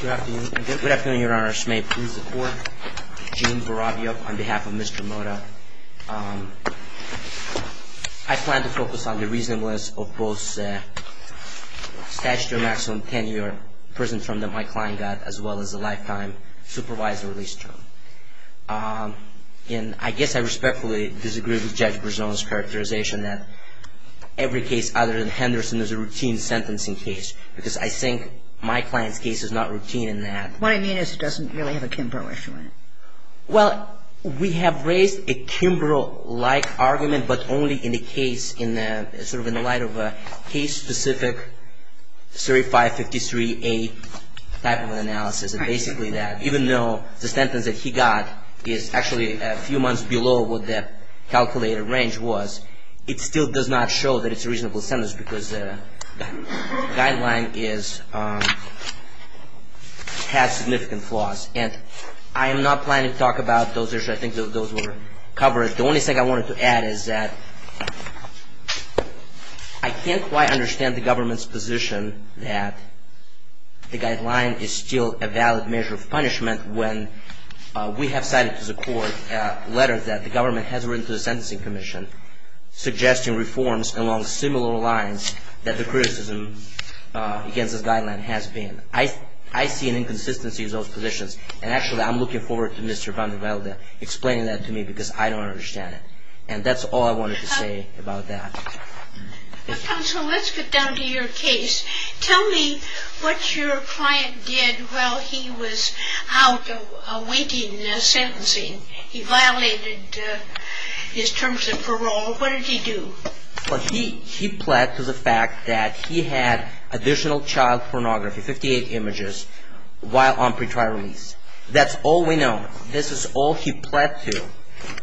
Good afternoon. Good afternoon, Your Honor. May it please the Court. Gene Barabio on behalf of Mr. Mota. I plan to focus on the reasonableness of both statutory maximum tenure prison term that my client got as well as a lifetime supervisory release term. And I guess I respectfully disagree with Judge Berzon's characterization that every case other than Henderson is a routine sentencing case because I think my client's case is not routine in that. What I mean is it doesn't really have a Kimbrough issue in it. Well, we have raised a Kimbrough-like argument but only in the case, sort of in the light of a case-specific 3553A type of analysis, and basically that even though the sentence that he got is actually a few months below what the calculated range was, it still does not show that it's a reasonable sentence because the guideline has significant flaws. And I am not planning to talk about those issues. I think those were covered. The only thing I wanted to add is that I can't quite understand the government's position that the guideline is still a valid measure of punishment when we have cited to the Court letters that the government has written to the Sentencing Commission suggesting reforms along similar lines that the criticism against this guideline has been. I see an inconsistency in those positions. And actually I'm looking forward to Mr. Vandervelde explaining that to me because I don't understand it. And that's all I wanted to say about that. Counsel, let's get down to your case. Tell me what your client did while he was out awaiting sentencing. He violated his terms of parole. What did he do? He pled to the fact that he had additional child pornography, 58 images, while on pre-trial release. That's all we know. This is all he pled to.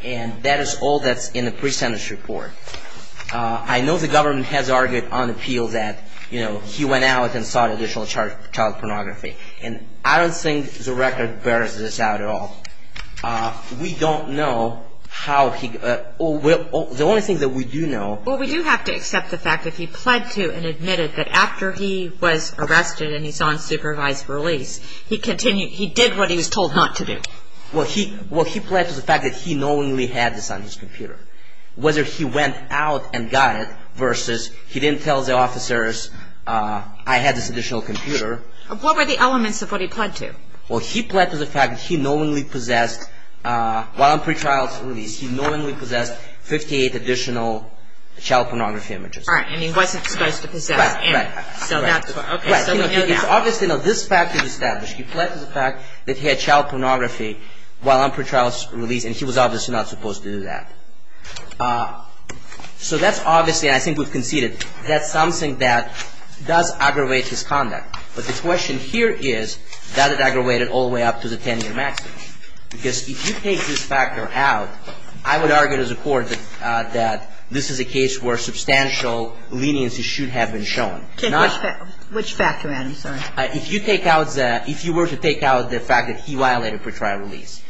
And that is all that's in the pre-sentence report. I know the government has argued on appeal that he went out and sought additional child pornography. And I don't think the record bears this out at all. We don't know how he, the only thing that we do know. Well, we do have to accept the fact that he pled to and admitted that after he was arrested and he's on supervised release, he continued, he did what he was told not to do. Well, he pled to the fact that he knowingly had this on his computer. Whether he went out and got it versus he didn't tell the officers I had this additional computer. What were the elements of what he pled to? Well, he pled to the fact that he knowingly possessed, while on pre-trial release, he knowingly possessed 58 additional child pornography images. Right, and he wasn't supposed to possess any. Right, right. So that's what, okay, so we know that. Obviously, now this fact is established. He pled to the fact that he had child pornography while on pre-trial release, and he was obviously not supposed to do that. So that's obviously, I think we've conceded, that's something that does aggravate his conduct. But the question here is, does it aggravate it all the way up to the 10-year maximum? Because if you take this factor out, I would argue to the Court that this is a case where substantial leniency should have been shown. Which factor, Adam? If you take out, if you were to take out the fact that he violated pre-trial release,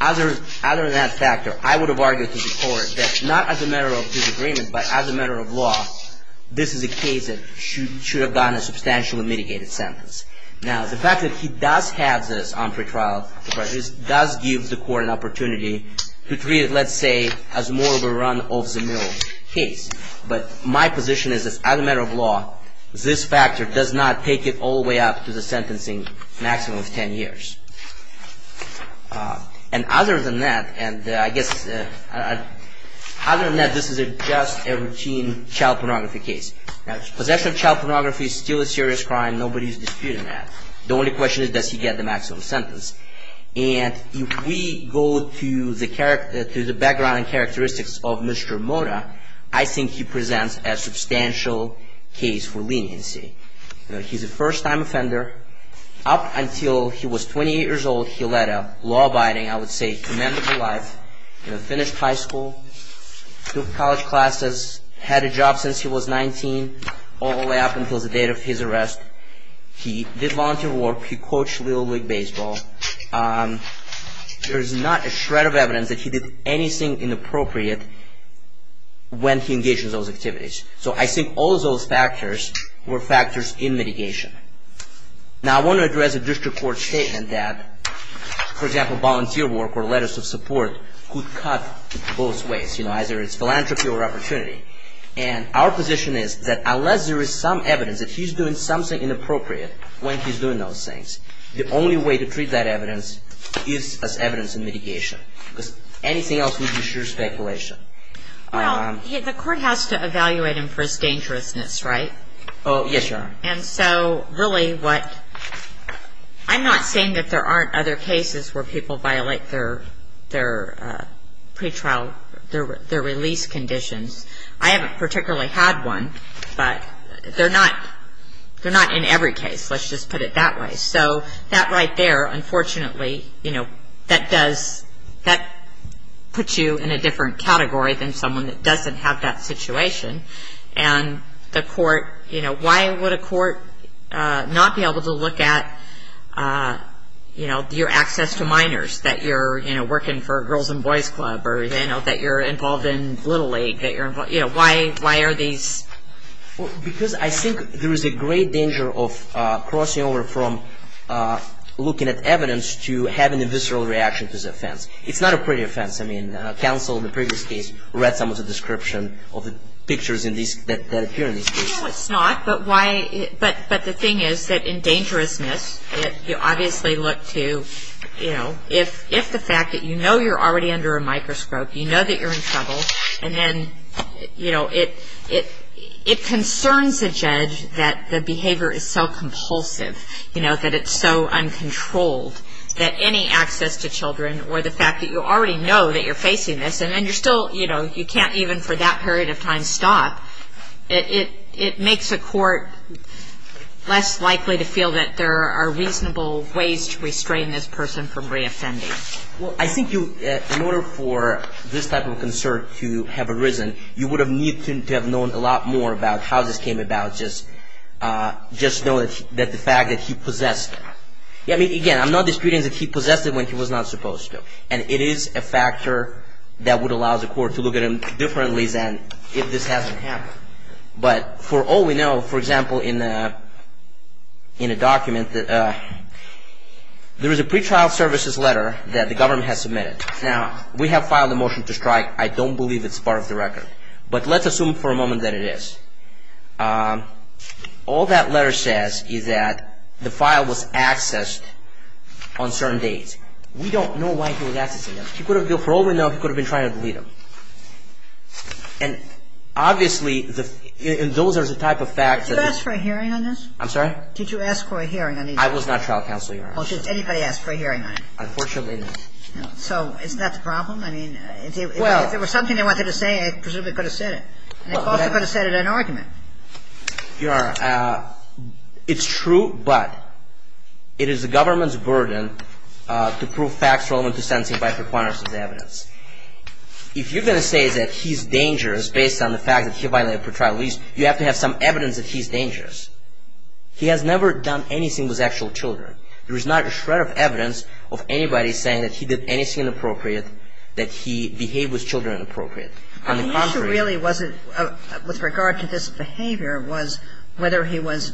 other than that factor, I would have argued to the Court that not as a matter of disagreement, but as a matter of law, this is a case that should have gotten a substantially mitigated sentence. Now, the fact that he does have this on pre-trial release does give the Court an opportunity to treat it, let's say, as more of a run-off-the-mill case. But my position is, as a matter of law, this factor does not take it all the way up to the sentencing maximum of 10 years. And other than that, and I guess, other than that, this is just a routine child pornography case. Possession of child pornography is still a serious crime. Nobody is disputing that. The only question is, does he get the maximum sentence? And if we go to the background and characteristics of Mr. Mota, I think he presents a substantial case for leniency. He's a first-time offender. Up until he was 28 years old, he led a law-abiding, I would say, commendable life. He finished high school, took college classes, had a job since he was 19, all the way up until the date of his arrest. He did volunteer work. He coached Little League Baseball. There is not a shred of evidence that he did anything inappropriate when he engaged in those activities. So I think all those factors were factors in mitigation. Now, I want to address a district court statement that, for example, volunteer work or letters of support could cut both ways. You know, either it's philanthropy or opportunity. And our position is that unless there is some evidence that he's doing something inappropriate when he's doing those things, the only way to treat that evidence is as evidence in mitigation. Because anything else would be sheer speculation. Well, the court has to evaluate him for his dangerousness, right? Oh, yes, Your Honor. And so really what ‑‑ I'm not saying that there aren't other cases where people violate their pretrial, their release conditions. I haven't particularly had one, but they're not in every case. Let's just put it that way. So that right there, unfortunately, you know, that does ‑‑ that puts you in a different category than someone that doesn't have that situation. And the court, you know, why would a court not be able to look at, you know, your access to minors that you're, you know, working for Girls and Boys Club or, you know, that you're involved in Little League? You know, why are these ‑‑ Because I think there is a great danger of crossing over from looking at evidence to having a visceral reaction to this offense. It's not a pretty offense. I mean, counsel in the previous case read some of the description of the pictures that appear in these cases. No, it's not. But the thing is that in dangerousness, you obviously look to, you know, if the fact that you know you're already under a microscope, you know that you're in trouble, and then, you know, it concerns the judge that the behavior is so compulsive, you know, that it's so uncontrolled that any access to children or the fact that you already know that you're facing this and then you're still, you know, you can't even for that period of time stop, it makes a court less likely to feel that there are reasonable ways to restrain this person from reoffending. Well, I think in order for this type of concern to have arisen, you would have needed to have known a lot more about how this came about, just know that the fact that he possessed it. I mean, again, I'm not disputing that he possessed it when he was not supposed to. And it is a factor that would allow the court to look at him differently than if this hasn't happened. But for all we know, for example, in a document, there is a pretrial services letter that the government has submitted. Now, we have filed a motion to strike. I don't believe it's part of the record. But let's assume for a moment that it is. All that letter says is that the file was accessed on certain dates. We don't know why he was accessing them. For all we know, he could have been trying to delete them. And obviously, those are the type of facts that... Did you ask for a hearing on this? I'm sorry? Did you ask for a hearing on this? I was not trial counseling. Well, did anybody ask for a hearing on it? Unfortunately, no. So, isn't that the problem? I mean, if there was something they wanted to say, I presume they could have said it. And they also could have said it in an argument. Your Honor, it's true, but it is the government's burden to prove facts relevant to sentencing by prequirements as evidence. If you're going to say that he's dangerous based on the fact that he violated pretrial lease, you have to have some evidence that he's dangerous. He has never done anything with actual children. There is not a shred of evidence of anybody saying that he did anything inappropriate, that he behaved with children inappropriately. The issue really with regard to this behavior was whether he was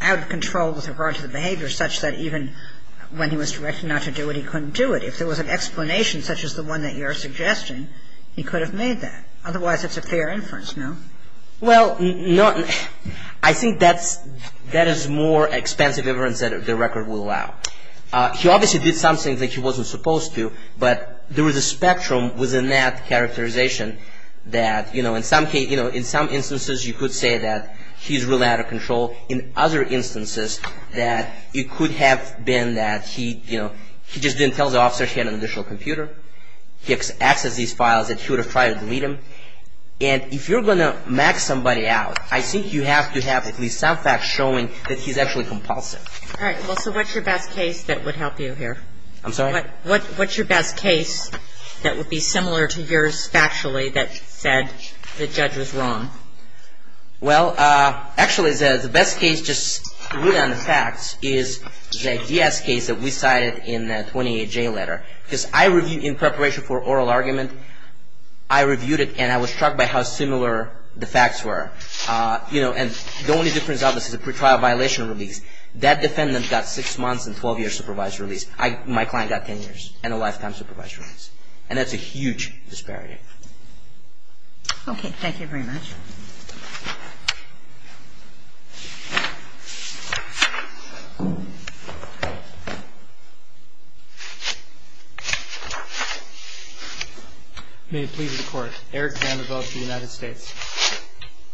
out of control with regard to the behavior such that even when he was directed not to do it, he couldn't do it. If there was an explanation such as the one that you're suggesting, he could have made that. Otherwise, it's a fair inference, no? Well, I think that is more expensive evidence that the record will allow. He obviously did some things that he wasn't supposed to, but there was a spectrum within that characterization that, you know, in some instances, you could say that he's really out of control. In other instances, that it could have been that he, you know, he just didn't tell the officer he had an additional computer. He accessed these files that he would have tried to delete them. And if you're going to max somebody out, I think you have to have at least some facts showing that he's actually compulsive. All right. Well, so what's your best case that would help you here? I'm sorry? What's your best case that would be similar to yours factually that said the judge was wrong? Well, actually, the best case just really on the facts is the DS case that we cited in the 28J letter. Because I reviewed it in preparation for oral argument. I reviewed it, and I was struck by how similar the facts were. You know, and the only difference of this is the pretrial violation release. That defendant got six months and 12 years supervised release. My client got 10 years and a lifetime supervised release. And that's a huge disparity. Okay. Thank you very much. May it please the Court. Eric Vanderbilt, the United States.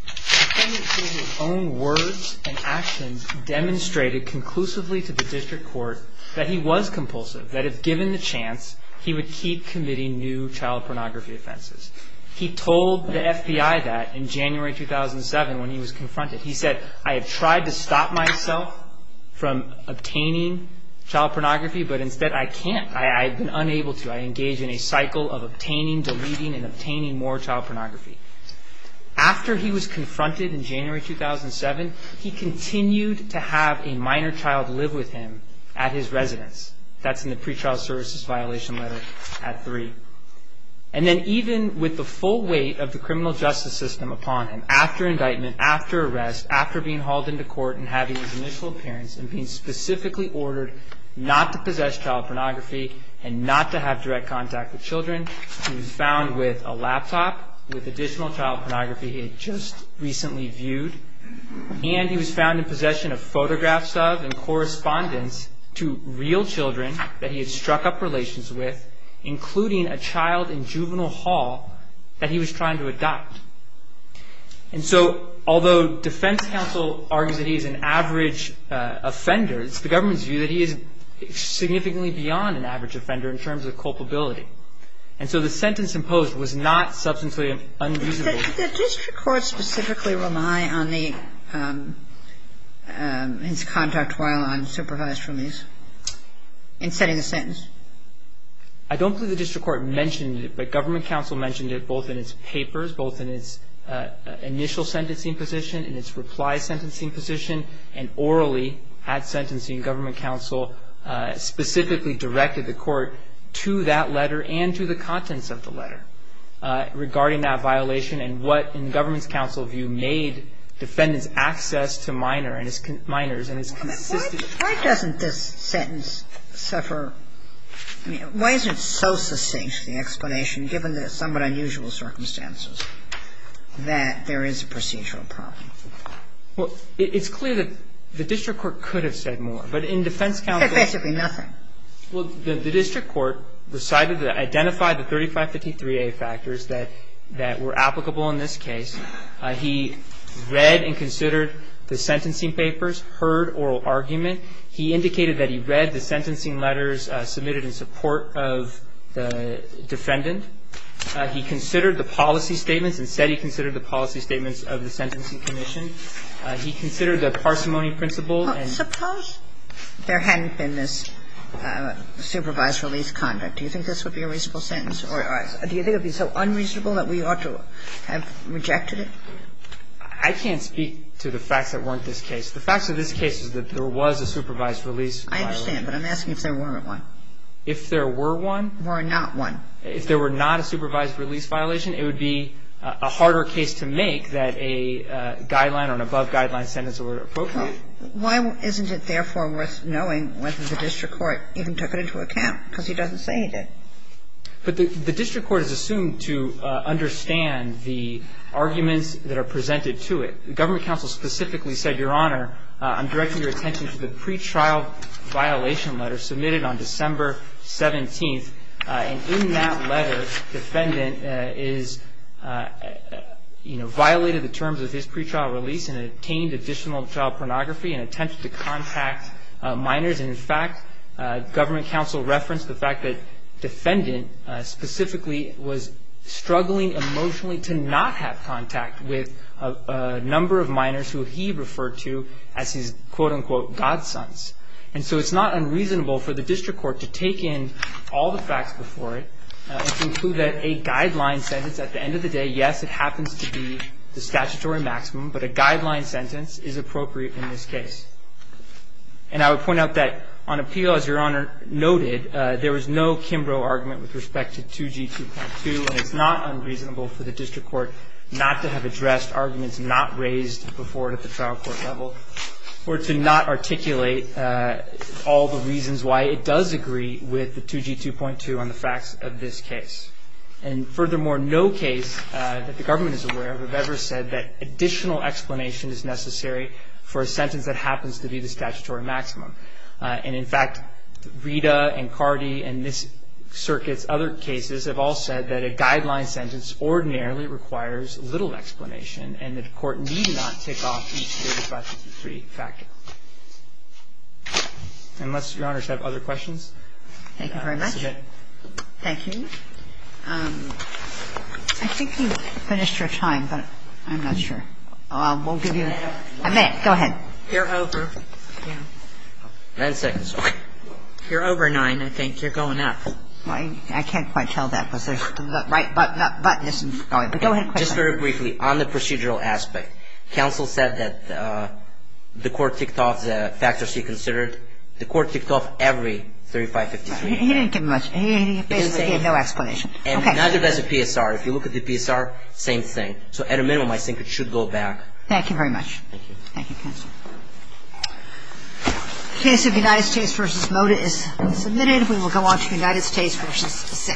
The defendant, through his own words and actions, demonstrated conclusively to the district court that he was compulsive, that if given the chance, he would keep committing new child pornography offenses. He told the FBI that in January 2007 when he was confronted. He said, I have tried to stop myself from obtaining child pornography, but instead I can't. I've been unable to. I engage in a cycle of obtaining, deleting, and obtaining more child pornography. After he was confronted in January 2007, he continued to have a minor child live with him at his residence. That's in the pretrial services violation letter at three. And then even with the full weight of the criminal justice system upon him, after indictment, after arrest, after being hauled into court and having his initial appearance and being specifically ordered not to possess child pornography and not to have direct contact with children, he was found with a laptop with additional child pornography he had just recently viewed. And he was found in possession of photographs of and correspondence to real children that he had struck up relations with, including a child in juvenile hall that he was trying to adopt. And so although defense counsel argues that he is an average offender, it's the government's view that he is significantly beyond an average offender in terms of culpability. And so the sentence imposed was not substantially unusable. The district court specifically rely on the his contact while I'm supervised from these in setting the sentence. I don't believe the district court mentioned it, but government counsel mentioned it both in its papers, both in its initial sentencing position, in its reply sentencing position, and orally at sentencing. Government counsel specifically directed the court to that letter and to the contents of the letter regarding that violation and what, in the government's counsel view, made defendants' access to minors and his consistent. Why doesn't this sentence suffer? I mean, why isn't it so succinct, the explanation, given the somewhat unusual circumstances that there is a procedural problem? Well, it's clear that the district court could have said more. But in defense counsel's view. He said basically nothing. Well, the district court decided to identify the 3553A factors that were applicable in this case. He read and considered the sentencing papers, heard oral argument. He indicated that he read the sentencing letters submitted in support of the defendant. He considered the policy statements and said he considered the policy statements of the Sentencing Commission. He considered the parsimony principle. Suppose there hadn't been this supervised release conduct. Do you think this would be a reasonable sentence? Do you think it would be so unreasonable that we ought to have rejected it? I can't speak to the facts that weren't this case. The facts of this case is that there was a supervised release violation. I understand. But I'm asking if there weren't one. If there were one. Were not one. If there were not a supervised release violation, it would be a harder case to make that a guideline or an above-guideline sentence were appropriate. Well, why isn't it, therefore, worth knowing whether the district court even took it into account? Because he doesn't say he did. But the district court is assumed to understand the arguments that are presented to it. Government counsel specifically said, Your Honor, I'm directing your attention to the pretrial violation letter submitted on December 17th. And in that letter, defendant is, you know, violated the terms of his pretrial release and obtained additional child pornography and attempted to contact minors. And, in fact, government counsel referenced the fact that defendant specifically was struggling emotionally to not have contact with a number of minors who he referred to as his, quote, unquote, God sons. And so it's not unreasonable for the district court to take in all the facts before it and conclude that a guideline sentence at the end of the day, yes, it happens to be the statutory maximum, but a guideline sentence is appropriate in this case. And I would point out that on appeal, as Your Honor noted, there was no Kimbrough argument with respect to 2G2.2, and it's not unreasonable for the district court not to have addressed arguments not raised before it at the trial court level or to not articulate all the reasons why it does agree with the 2G2.2 on the facts of this case. And, furthermore, no case that the government is aware of have ever said that additional explanation is necessary for a sentence that happens to be the statutory maximum. And, in fact, Rita and Cardi and this circuit's other cases have all said that a guideline sentence ordinarily requires little explanation and that the court need not take off each 3553 fact. Unless, Your Honor, you have other questions. Thank you very much. Thank you. I think you've finished your time, but I'm not sure. We'll give you a minute. Go ahead. You're over. Nine seconds. Okay. You're over nine, I think. You're going up. I can't quite tell that because there's the right button isn't going, but go ahead. Just very briefly, on the procedural aspect, counsel said that the court ticked off the factors he considered. The court ticked off every 3553. He didn't give much. He basically gave no explanation. Okay. And neither does the PSR. If you look at the PSR, same thing. So at a minimum, I think it should go back. Thank you very much. Thank you. Thank you, counsel. The case of United States v. Moda is submitted. We will go on to United States v. Sixth.